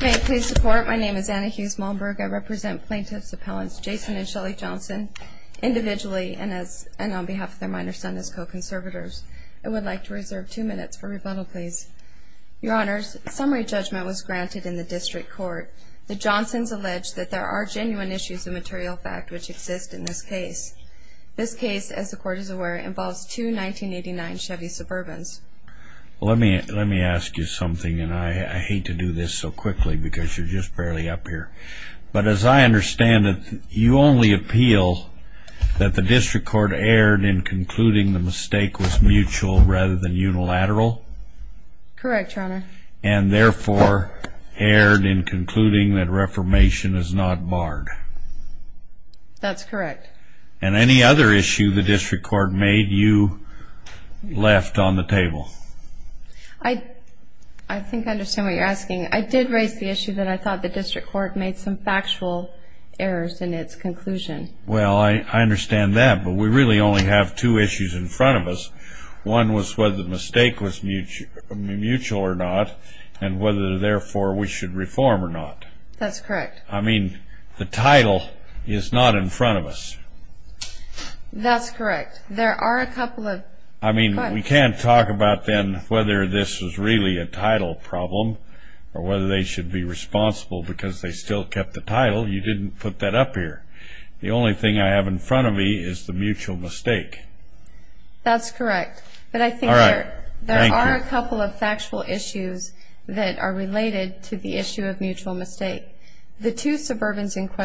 May it please the court, my name is Anna Hughes Malmberg. I represent plaintiffs' appellants Jason and Shelly Johnson individually and on behalf of their minor son as co-conservators. I would like to reserve two minutes for rebuttal please. Your honors, summary judgment was granted in the district court. The Johnsons allege that there are genuine issues of material fact which exist in this case. This case, as the court is aware, involves two 1989 Chevy Suburbans. Let me let me ask you something and I hate to do this so quickly because you're just barely up here, but as I understand it you only appeal that the district court erred in concluding the mistake was mutual rather than unilateral? Correct, your honor. And therefore erred in concluding that reformation is not barred? That's correct. And any other issue the district court made you left on the table? I think I understand what you're asking. I did raise the issue that I thought the district court made some factual errors in its conclusion. Well I understand that but we really only have two issues in front of us. One was whether the mistake was mutual or not and whether therefore we should reform or not. That's correct. I mean the title is not in That's correct. There are a couple of... I mean we can't talk about then whether this was really a title problem or whether they should be responsible because they still kept the title. You didn't put that up here. The only thing I have in front of me is the mutual mistake. That's correct. But I think there are a couple of factual issues that are related to the issue of mutual mistake. The two of those suburbans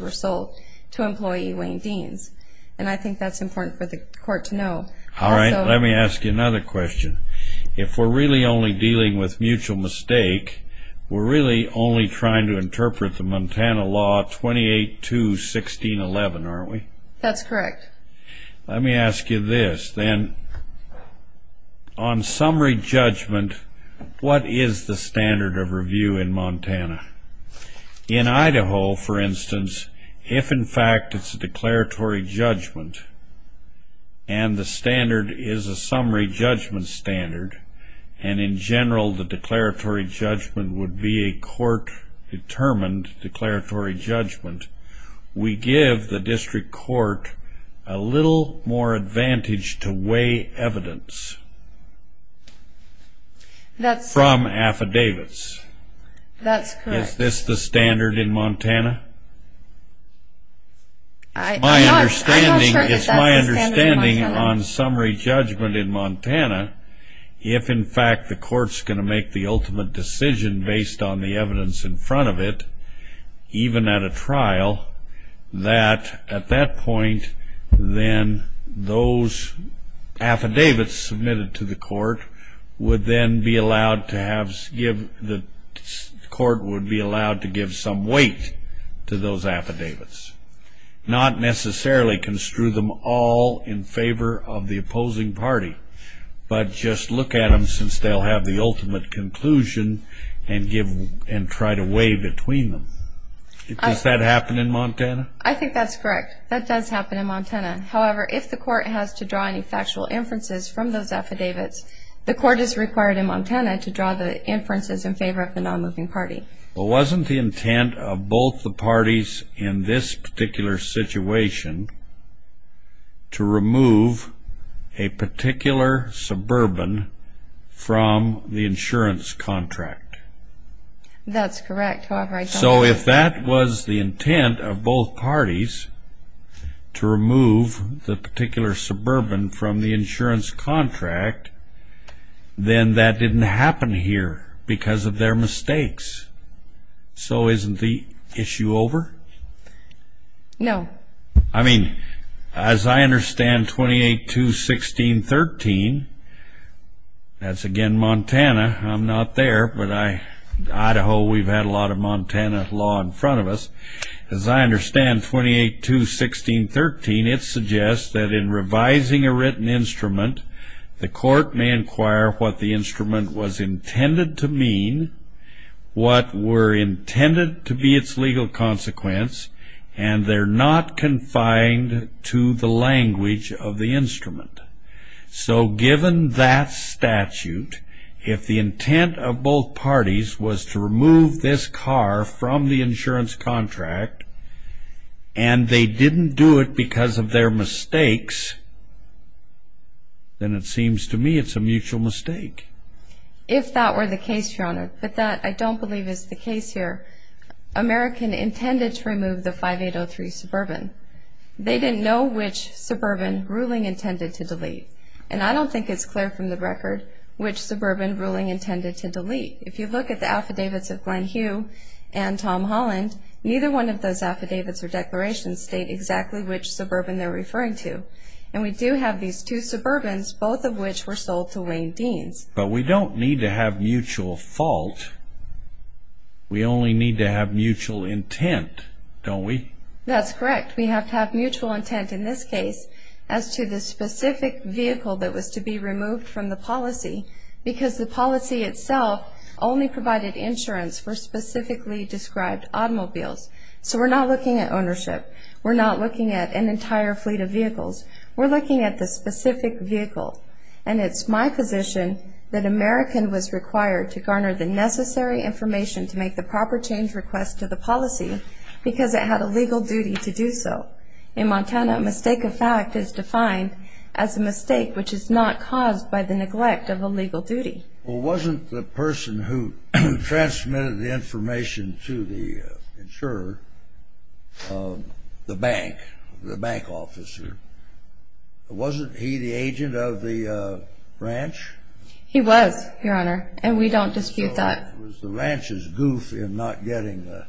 were sold to employee Wayne Deans and I think that's important for the court to know. All right, let me ask you another question. If we're really only dealing with mutual mistake, we're really only trying to interpret the Montana law 28-2-1611, aren't we? That's correct. Let me ask you this. Then on summary judgment, what is the standard of review in Montana? In Idaho, for instance, if in fact it's a declaratory judgment and the standard is a summary judgment standard and in general the declaratory judgment would be a court-determined declaratory judgment, we give the district court a little more advantage to weigh evidence from affidavits. That's correct. Is this the standard in Montana? It's my understanding on summary judgment in Montana if in fact the court's going to make the ultimate decision based on the evidence in front of it, even at a trial, that at that point then those affidavits submitted to the court would then be allowed to have, the court would be allowed to give some weight to those affidavits, not necessarily construe them all in favor of the opposing party, but just look at them since they'll have the ultimate conclusion and try to weigh between them. Does that happen in Montana? I think that's correct. That does happen in Montana. However, if the court has to draw any factual inferences from those affidavits, the court is required in Montana to draw the inferences in favor of the non-moving party. But wasn't the intent of both the parties in this particular situation to remove a particular suburban from the insurance contract? That's correct. So if that was the intent of both parties to remove the particular suburban from the insurance contract, then that didn't happen here because of their mistakes. So isn't the issue over? No. I mean, as I understand 28.2.16.13, that's again Montana, I'm not there, but I, Idaho, we've had a lot of Montana law in front of us. As I understand 28.2.16.13, it suggests that in was intended to mean what were intended to be its legal consequence, and they're not confined to the language of the instrument. So given that statute, if the intent of both parties was to remove this car from the insurance contract, and they didn't do it because of their mistakes, then it seems to me it's a mutual mistake. If that were the case, Your Honor, but that I don't believe is the case here. American intended to remove the 5803 suburban. They didn't know which suburban ruling intended to delete, and I don't think it's clear from the record which suburban ruling intended to delete. If you look at the affidavits of Glenn Hugh and Tom Holland, neither one of those affidavits or declarations state exactly which suburban they're referring to. And we do have these two suburbans, both of which were sold to Wayne Deans. But we don't need to have mutual fault. We only need to have mutual intent, don't we? That's correct. We have to have mutual intent in this case as to the specific vehicle that was to be removed from the policy, because the policy itself only provided insurance for specifically described automobiles. So we're not looking at ownership. We're not looking at an entire fleet of vehicles. We're looking at the specific vehicle. And it's my position that American was required to garner the necessary information to make the proper change request to the policy, because it had a legal duty to do so. In Montana, a mistake of fact is defined as a mistake which is not caused by the neglect of a legal duty. Well, wasn't the person who transmitted the information to the insurer, the bank, the bank officer, wasn't he the agent of the ranch? He was, Your Honor, and we don't dispute that. So it was the ranch's goof in not getting the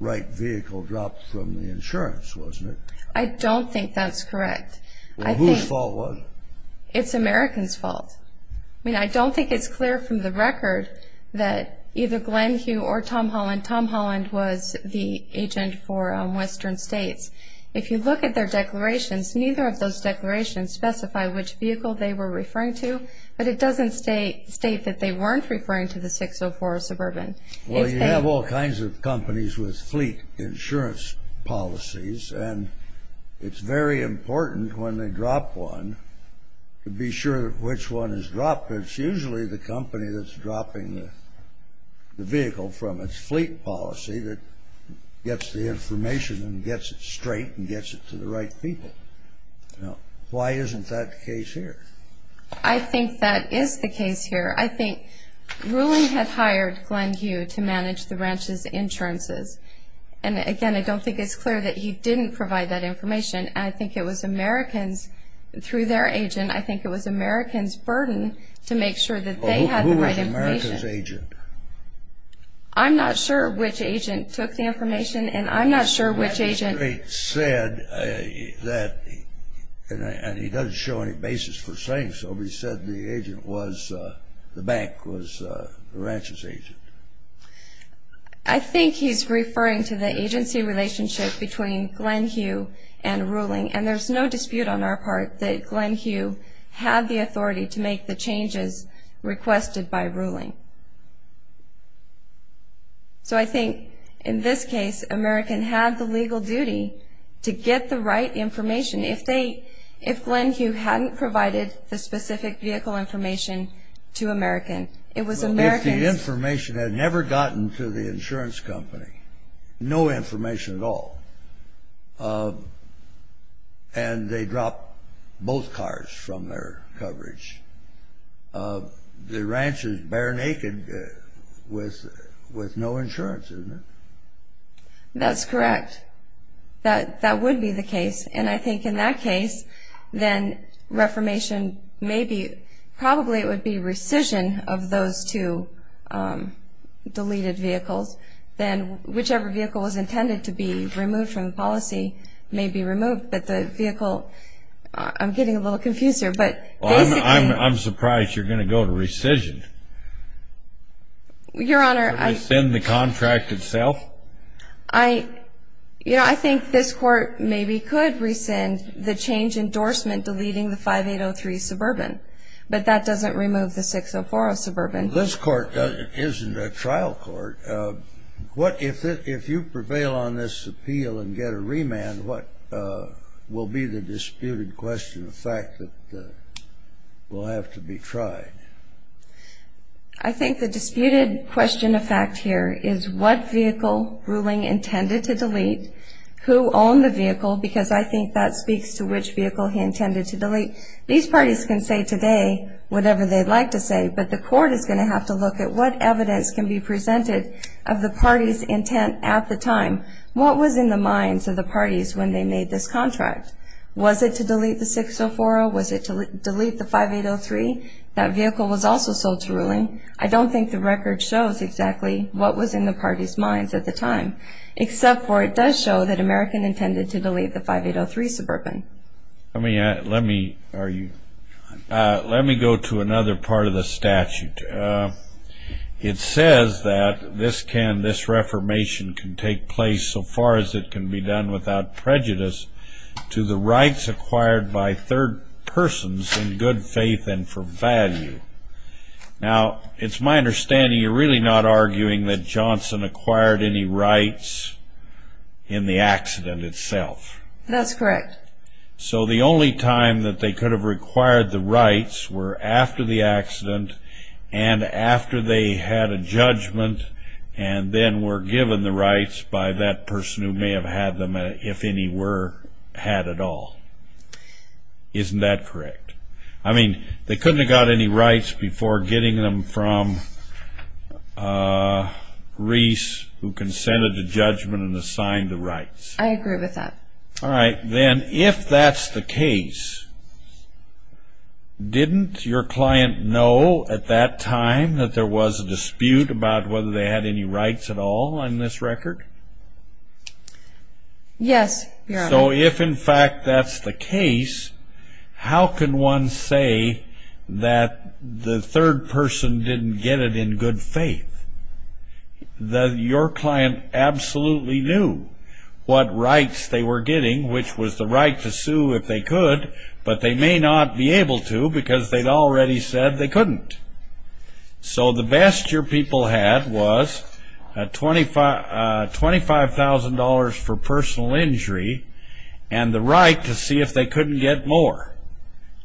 right vehicle dropped from the insurance, wasn't it? I don't think that's correct. Well, whose fault was it? It's Americans' fault. I mean, I don't think it's clear from the record that either Glen Hugh or Tom Holland, Tom Holland was the agent for Western States. If you look at their declarations, neither of those declarations specify which vehicle they were referring to, but it doesn't state that they weren't referring to the 604 Suburban. Well, you have all kinds of companies with fleet insurance policies, and it's very important when they drop one to be sure which one is dropped. It's usually the company that's dropping the vehicle from its fleet policy that gets the information and gets it straight and gets it to the right people. Now, why isn't that the case here? I think that is the case here. I think Ruling had hired Glen Hugh to manage the ranch's insurances, and again, I don't think it's clear that he didn't provide that information. I think it was Americans, through their agent, I think it was Americans' burden to make sure that they had the right information. Well, who was America's agent? I'm not sure which agent took the information, and I'm not sure which agent... The ranch's agent said that, and he doesn't show any basis for saying so, but he said the agent was, the bank was the ranch's agent. I think he's Ruling, and there's no dispute on our part that Glen Hugh had the authority to make the changes requested by Ruling. So I think, in this case, American had the legal duty to get the right information. If they, if Glen Hugh hadn't provided the specific vehicle information to American, it was American's... Well, if the information had never gotten to the insurance company, no And they dropped both cars from their coverage. The ranch is bare naked with no insurance, isn't it? That's correct. That would be the case, and I think in that case, then reformation may be, probably it would be rescission of those two deleted vehicles. Then whichever vehicle was intended to be removed from policy may be removed, but the vehicle... I'm getting a little confused here, but... I'm surprised you're going to go to rescission. Your Honor, I... To rescind the contract itself? I, you know, I think this court maybe could rescind the change endorsement deleting the 5803 Suburban, but that doesn't remove the 6040 Suburban. This court isn't a trial court. What, if you prevail on this appeal and get a remand, what will be the disputed question of fact that will have to be tried? I think the disputed question of fact here is what vehicle ruling intended to delete, who owned the vehicle, because I think that speaks to which vehicle he intended to delete. These parties can say today whatever they'd like to say, but the court is going to have to look at what evidence can be presented of the party's intent at the time. What was in the minds of the parties when they made this contract? Was it to delete the 6040? Was it to delete the 5803? That vehicle was also sold to ruling. I don't think the record shows exactly what was in the party's minds at the time, except for it does show that American intended to delete the 5803 Suburban. Let me, let me, are you... Let me go to another part of the statute. It says that this can, this reformation can take place so far as it can be done without prejudice to the rights acquired by third persons in good faith and for value. Now, it's my understanding you're really not arguing that Johnson acquired any rights in the accident itself. That's correct. So the only time that they could have required the rights were after the accident and after they had a judgment and then were given the rights by that person who may have had them, if any were had at all. Isn't that correct? I mean, they couldn't have got any rights before getting them from Reese, who consented to judgment and signed the rights. I agree with that. All right, then if that's the case, didn't your client know at that time that there was a dispute about whether they had any rights at all on this record? Yes, Your Honor. So if in fact that's the case, how can one say that the third person didn't get it in good faith? Your client absolutely knew what rights they were getting, which was the right to sue if they could, but they may not be able to because they'd already said they couldn't. So the best your people had was $25,000 for personal injury and the right to see if they couldn't get more.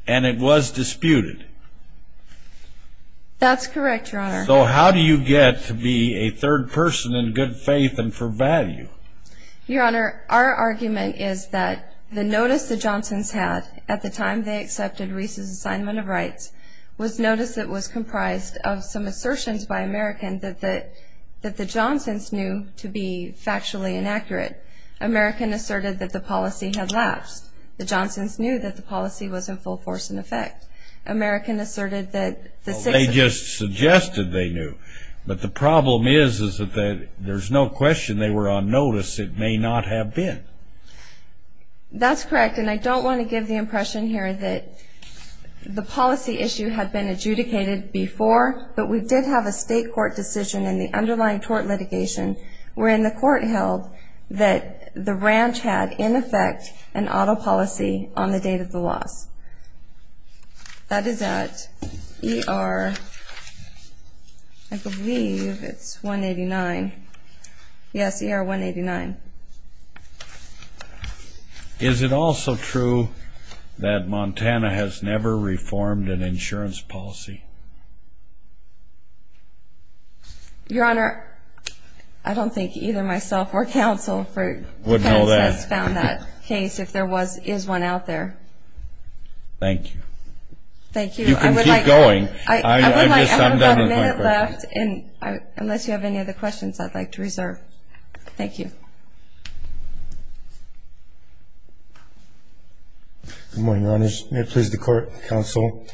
And it was disputed. That's correct, Your Honor. So how do you get to be a third person in good faith and for value? Your Honor, our argument is that the notice the Johnson's had at the time they accepted Reese's assignment of rights was notice that was comprised of some assertions by American that the Johnson's knew to be factually inaccurate. American asserted that the policy had lapsed. The Johnson's knew that the policy was in full force and effect. American asserted that the six of them... notice it may not have been. That's correct, and I don't want to give the impression here that the policy issue had been adjudicated before, but we did have a state court decision in the underlying tort litigation wherein the court held that the ranch had in effect an auto policy on the date of the loss. That is at ER... I believe it's 189. Yes, ER 189. Is it also true that Montana has never reformed an insurance policy? Your Honor, I don't think either myself or counsel has found that case. If there was, is one out there. Thank you. You can keep going. I'm done with my question. I have about a minute left, unless you have any other questions I'd like to reserve. Thank you. Good morning, Your Honors. May it please the court, counsel.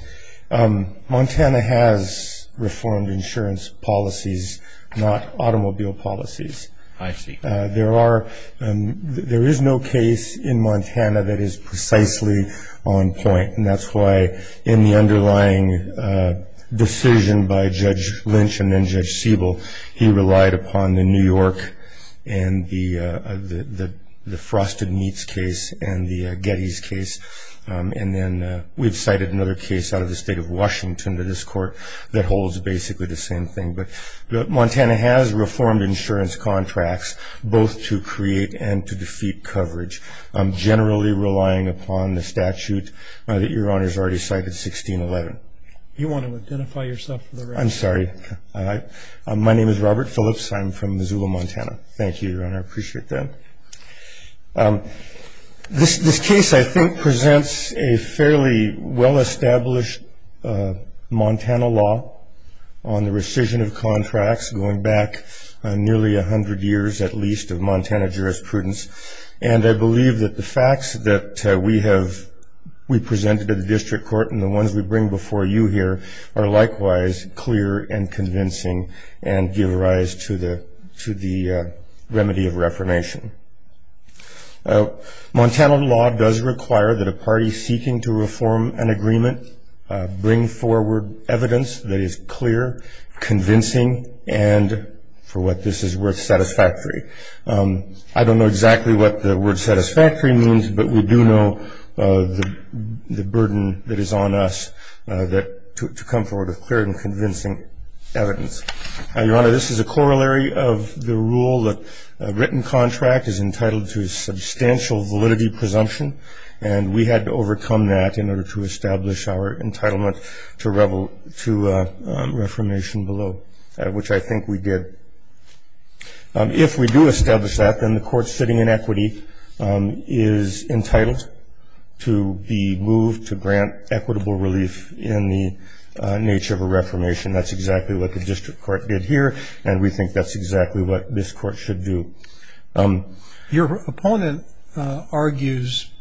Montana has reformed insurance policies, not automobile policies. I see. There are... there is no case in Montana that is precisely on point, and that's why in the underlying decision by Judge Lynch and then Judge Siebel, he relied upon the New York and the... the Frosted Meats case and the Getty's case, and then we've cited another case out of the state of Washington to this court that holds basically the same thing. But Montana has reformed insurance contracts, both to create and to defeat coverage, generally relying upon the statute that Your Honor has already cited, 1611. You want to identify yourself for the record? I'm sorry. My name is Robert Phillips. I'm from Missoula, Montana. Thank you, Your Honor. I appreciate that. This case, I think, presents a fairly well-established Montana law on the rescission of contracts going back nearly 100 years, at least, of Montana jurisprudence. And I believe that the facts that we have... we presented at the district court and the ones we bring before you here are likewise clear and convincing and give rise to the... to the remedy of reformation. Montana law does require that a party seeking to reform an agreement bring forward evidence that is clear, convincing, and, for what this is worth, satisfactory. I don't know exactly what the word satisfactory means, but we do know the burden that is on us that... to come forward with clear and convincing evidence. Your Honor, this is a corollary of the rule that a written contract is entitled to substantial validity presumption, and we had to overcome that in order to establish our entitlement to reformation below, which I think we did. If we do establish that, then the court sitting in equity is entitled to be moved to grant equitable relief in the nature of a reformation. That's exactly what the district court did here, and we think that's exactly what this court should do. Your opponent argues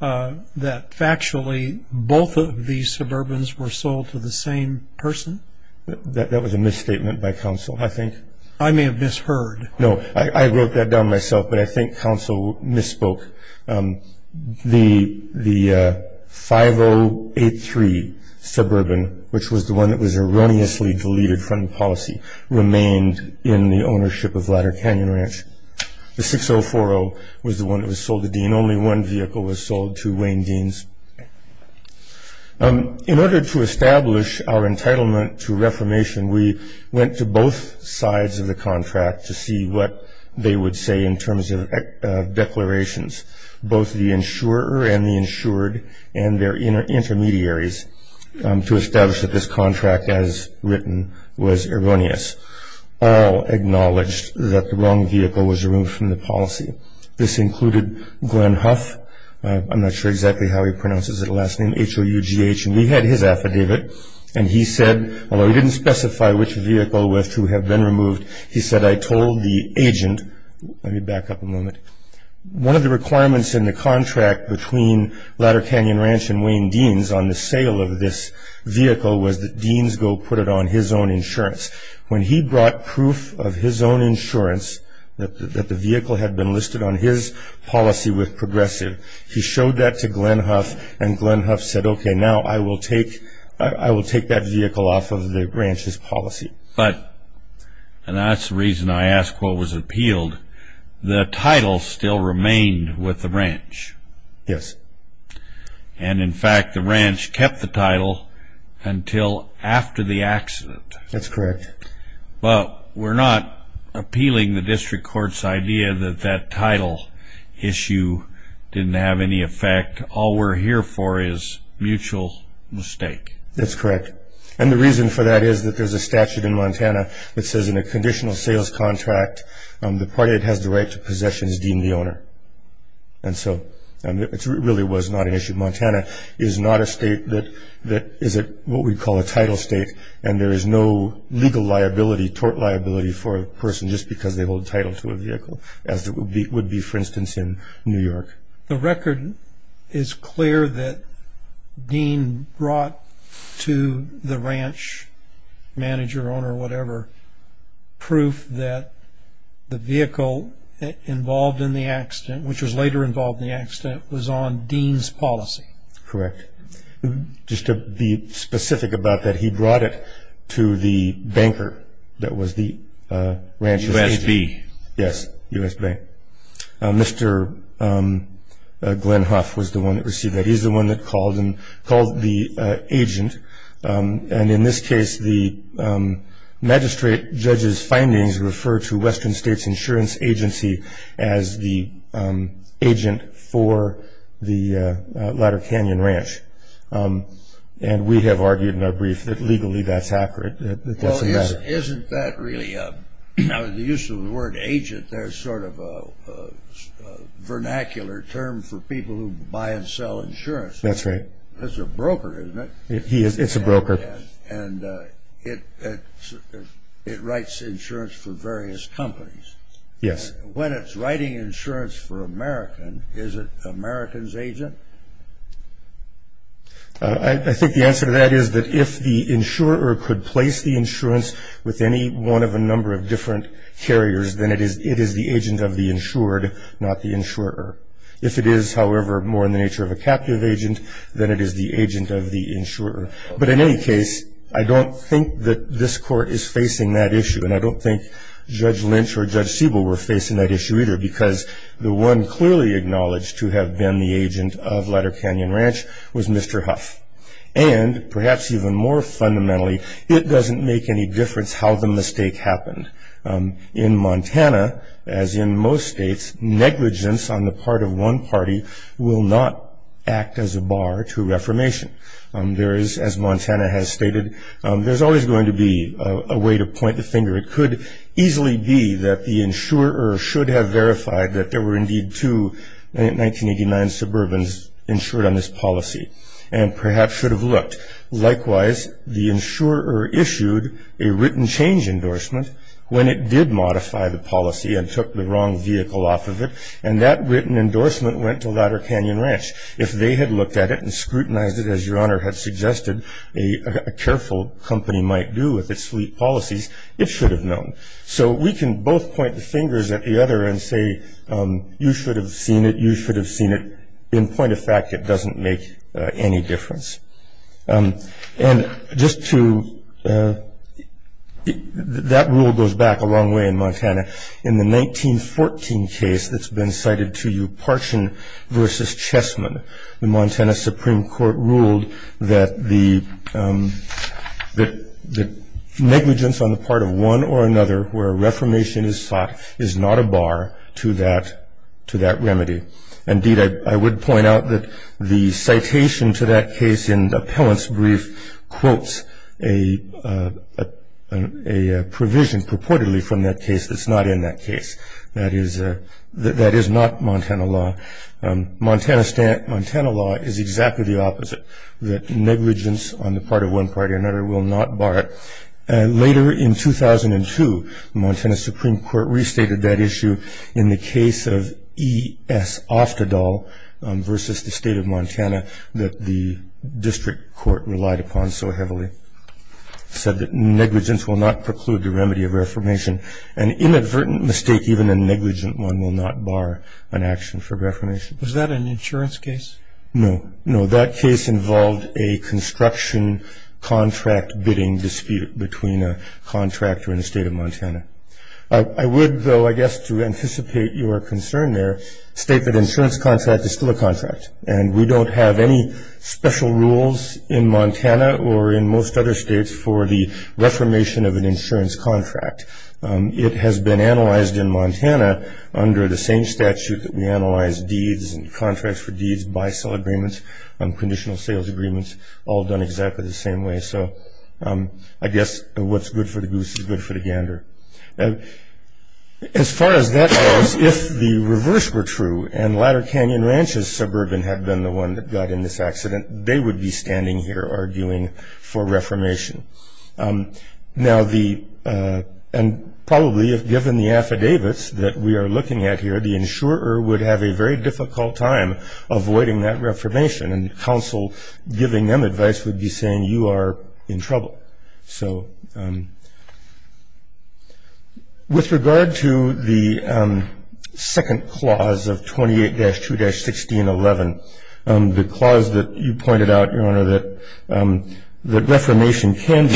that, factually, both of these suburbans were sold to the same person? That was a misstatement by counsel, I think. I may have misheard. No, I wrote that down myself, but I think counsel misspoke. The 5083 suburban, which was the one that was erroneously deleted from policy, remained in the ownership of Ladder Canyon Ranch. The 6040 was the one that was sold to Dean. Only one vehicle was sold to Wayne Dean's. In order to establish our entitlement to reformation, we went to both sides of the contract to see what they would say in terms of declarations, both the insurer and the insured and their intermediaries, to establish that this contract, as written, was erroneous. All acknowledged that the wrong vehicle was removed from the policy. This included Glenn Hough. I'm not sure exactly how he pronounces his last name, H-O-U-G-H, and we had his affidavit, and he said, although he didn't specify which vehicle was to have been removed, he said, I told the agent, let me back up a moment. One of the requirements in the contract between Ladder Canyon Ranch and Wayne Dean's on the sale of this vehicle was that Dean's go put it on his own insurance. When he brought proof of his own insurance that the vehicle had been listed on his policy with Progressive, he showed that to Glenn Hough, and Glenn Hough said, okay, now I will take that vehicle off of the ranch's policy. But, and that's the reason I asked what was appealed, the title still remained with the ranch. Yes. And, in fact, the ranch kept the title until after the accident. That's correct. But we're not appealing the district court's idea that that title issue didn't have any effect. All we're here for is mutual mistake. That's correct. And the reason for that is that there's a statute in Montana that says in a conditional sales contract, the party that has the right to possession is deemed the owner. And so, it really was not an issue. Montana is not a state that is what we call a title state, and there is no legal liability, tort liability, for a person just because they hold title to a vehicle, as it would be, for instance, in New York. The record is clear that Dean brought to the ranch manager, owner, whatever, proof that the vehicle involved in the accident, which was later involved in the accident, was on Dean's policy. Correct. Just to be specific about that, he brought it to the banker that was the ranch's... U.S.B. Yes, U.S. Bank. Mr. Glenn Huff was the one that received that. He's the one that called and called the agent. And in this case, the magistrate judge's findings refer to Western States Insurance Agency as the agent for the Ladder Canyon Ranch. And we have argued in our brief that legally that's accurate. Well, isn't that really, now the use of the word agent, there's sort of a vernacular term for people who buy and sell insurance. That's right. It's a broker, isn't it? It's a broker. And it writes insurance for various companies. Yes. When it's writing insurance for American, is it American's agent? I think the answer to that is that if the insurer could place the insurance with any one of a number of different carriers, then it is the agent of the insured, not the insurer. If it is, however, more in the nature of a captive agent, then it is the agent of the insurer. But in any case, I don't think that this court is facing that issue, and I don't think Judge Lynch or Judge Siebel were facing that issue either, because the one clearly acknowledged to have been the agent of Ladder Canyon Ranch was Mr. Huff. And perhaps even more fundamentally, it doesn't make any difference how the mistake happened. In Montana, as in most states, negligence on the part of one party will not act as a bar to reformation. There is, as Montana has stated, there's always going to be a way to point the finger. It could easily be that the insurer should have verified that there were indeed two 1989 Suburbans insured on this policy, and perhaps should have looked. Likewise, the insurer issued a written change endorsement when it did modify the policy and took the wrong vehicle off of it, and that written endorsement went to Ladder Canyon Ranch. If they had looked at it and scrutinized it, as Your Honor had suggested a careful company might do with its sweet policies, it should have known. So we can both point the fingers at the other and say, you should have seen it, you should have seen it. In point of fact, it doesn't make any difference. And just to – that rule goes back a long way in Montana. In the 1914 case that's been cited to you, Parchin v. Chessman, the Montana Supreme Court ruled that the negligence on the part of one or another where reformation is sought is not a bar to that remedy. Indeed, I would point out that the citation to that case in the appellant's brief quotes a provision purportedly from that case that's not in that case. That is not Montana law. Montana law is exactly the opposite, that negligence on the part of one party or another will not bar it. Later in 2002, the Montana Supreme Court restated that issue in the case of E.S. Oftedal v. the State of Montana that the district court relied upon so heavily. It said that negligence will not preclude the remedy of reformation. An inadvertent mistake, even a negligent one, will not bar an action for reformation. Was that an insurance case? No. No, that case involved a construction contract bidding dispute between a contractor and the State of Montana. I would, though, I guess to anticipate your concern there, state that an insurance contract is still a contract. And we don't have any special rules in Montana or in most other states for the reformation of an insurance contract. It has been analyzed in Montana under the same statute that we analyze deeds and contracts for deeds, buy-sell agreements, conditional sales agreements, all done exactly the same way. So I guess what's good for the goose is good for the gander. As far as that goes, if the reverse were true and Ladder Canyon Ranch's suburban had been the one that got in this accident, they would be standing here arguing for reformation. Now the, and probably if given the affidavits that we are looking at here, the insurer would have a very difficult time avoiding that reformation, and counsel giving them advice would be saying, you are in trouble. So with regard to the second clause of 28-2-1611, the clause that you pointed out, Your Honor, that the reformation can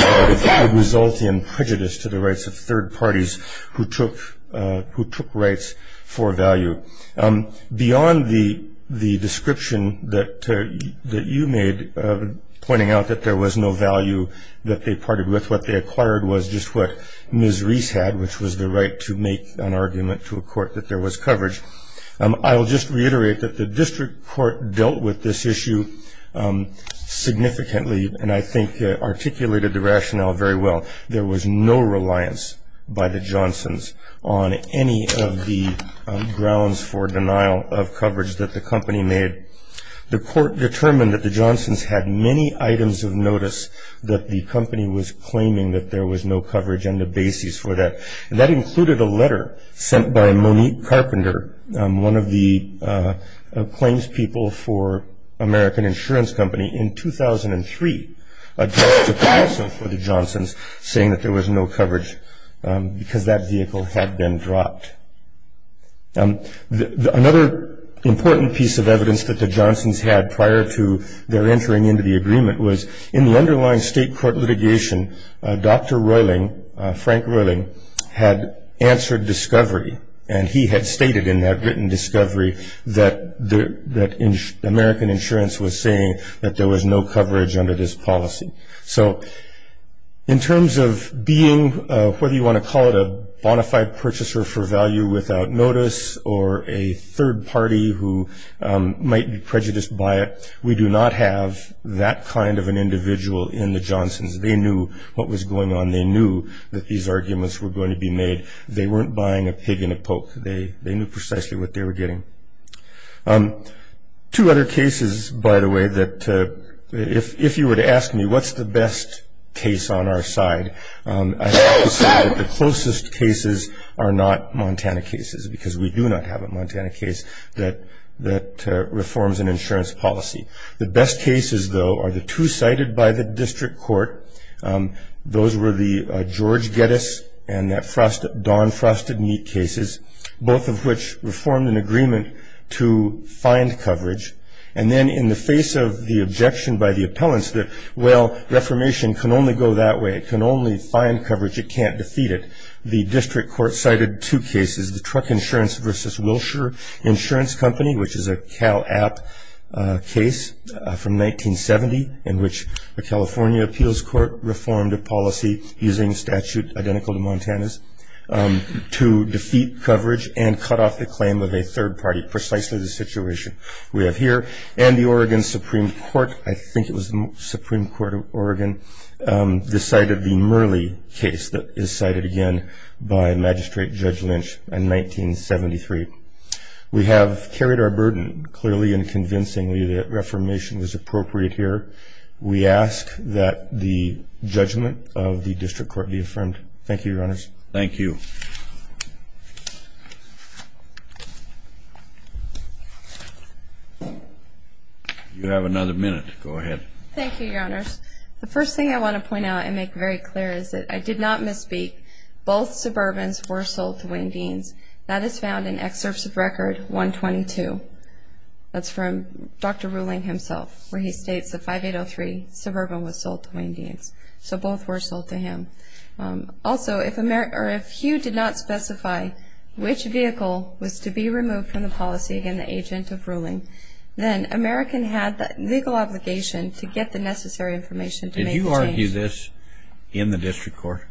result in prejudice to the rights of third parties who took rights for value. Beyond the description that you made pointing out that there was no value that they parted with, what they acquired was just what Ms. Reese had, which was the right to make an argument to a court that there was coverage. I'll just reiterate that the district court dealt with this issue significantly, and I think articulated the rationale very well. There was no reliance by the Johnsons on any of the grounds for denial of coverage that the company made. The court determined that the Johnsons had many items of notice that the company was claiming that there was no coverage and the basis for that, and that included a letter sent by Monique Carpenter, one of the claims people for American Insurance Company, in 2003, addressed the counsel for the Johnsons saying that there was no coverage because that vehicle had been dropped. Another important piece of evidence that the Johnsons had prior to their entering into the agreement was in the underlying state court litigation, Dr. Royling, Frank Royling, had answered discovery, and he had stated in that written discovery that American Insurance was saying that there was no coverage under this policy. So in terms of being, whether you want to call it a bona fide purchaser for value without notice, or a third party who might be prejudiced by it, we do not have that kind of an individual in the Johnsons. They knew what was going on. They knew that these arguments were going to be made. They weren't buying a pig in a poke. They knew precisely what they were getting. Two other cases, by the way, that if you were to ask me what's the best case on our side, I have to say that the closest cases are not Montana cases because we do not have a Montana case that reforms an insurance policy. The best cases, though, are the two cited by the district court. Those were the George Geddes and that Don Frosted Meat cases, both of which reformed an agreement to find coverage. And then in the face of the objection by the appellants that, well, reformation can only go that way. It can only find coverage. It can't defeat it. The district court cited two cases, the Truck Insurance v. Wilshire Insurance Company, which is a Cal App case from 1970 in which the California Appeals Court reformed a policy using statute identical to Montana's to defeat coverage and cut off the claim of a third party, precisely the situation we have here. And the Oregon Supreme Court, I think it was the Supreme Court of Oregon, decided the Murley case that is cited again by Magistrate Judge Lynch in 1973. We have carried our burden clearly and convincingly that reformation is appropriate here. We ask that the judgment of the district court be affirmed. Thank you, Your Honors. Thank you. You have another minute. Go ahead. Thank you, Your Honors. The first thing I want to point out and make very clear is that I did not misspeak. Both Suburbans were sold to Wayne Deans. That is found in Excerpts of Record 122. That's from Dr. Ruling himself where he states that 5803 Suburban was sold to Wayne Deans. So both were sold to him. Also, if Hugh did not specify which vehicle was to be removed from the policy again the agent of ruling, then American had the legal obligation to get the necessary information to make the change. Did you argue this in the district court,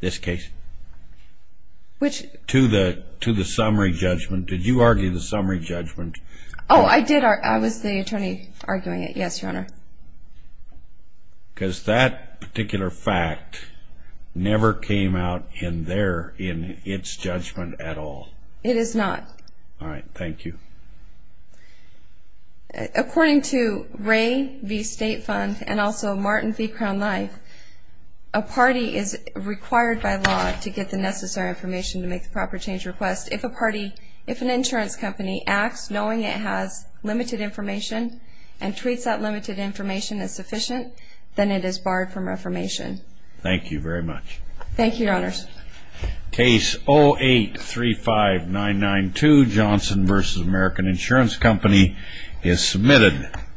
this case? Which? To the summary judgment. Did you argue the summary judgment? Oh, I did. I was the attorney arguing it. Yes, Your Honor. Because that particular fact never came out in there in its judgment at all. It is not. All right. Thank you. According to Ray v. State Fund and also Martin v. Crown Life, a party is required by law to get the necessary information to make the proper change request. If an insurance company acts knowing it has limited information and treats that limited information as sufficient, then it is barred from reformation. Thank you, Your Honors. Case 08-35992, Johnson v. American Insurance Company, is submitted.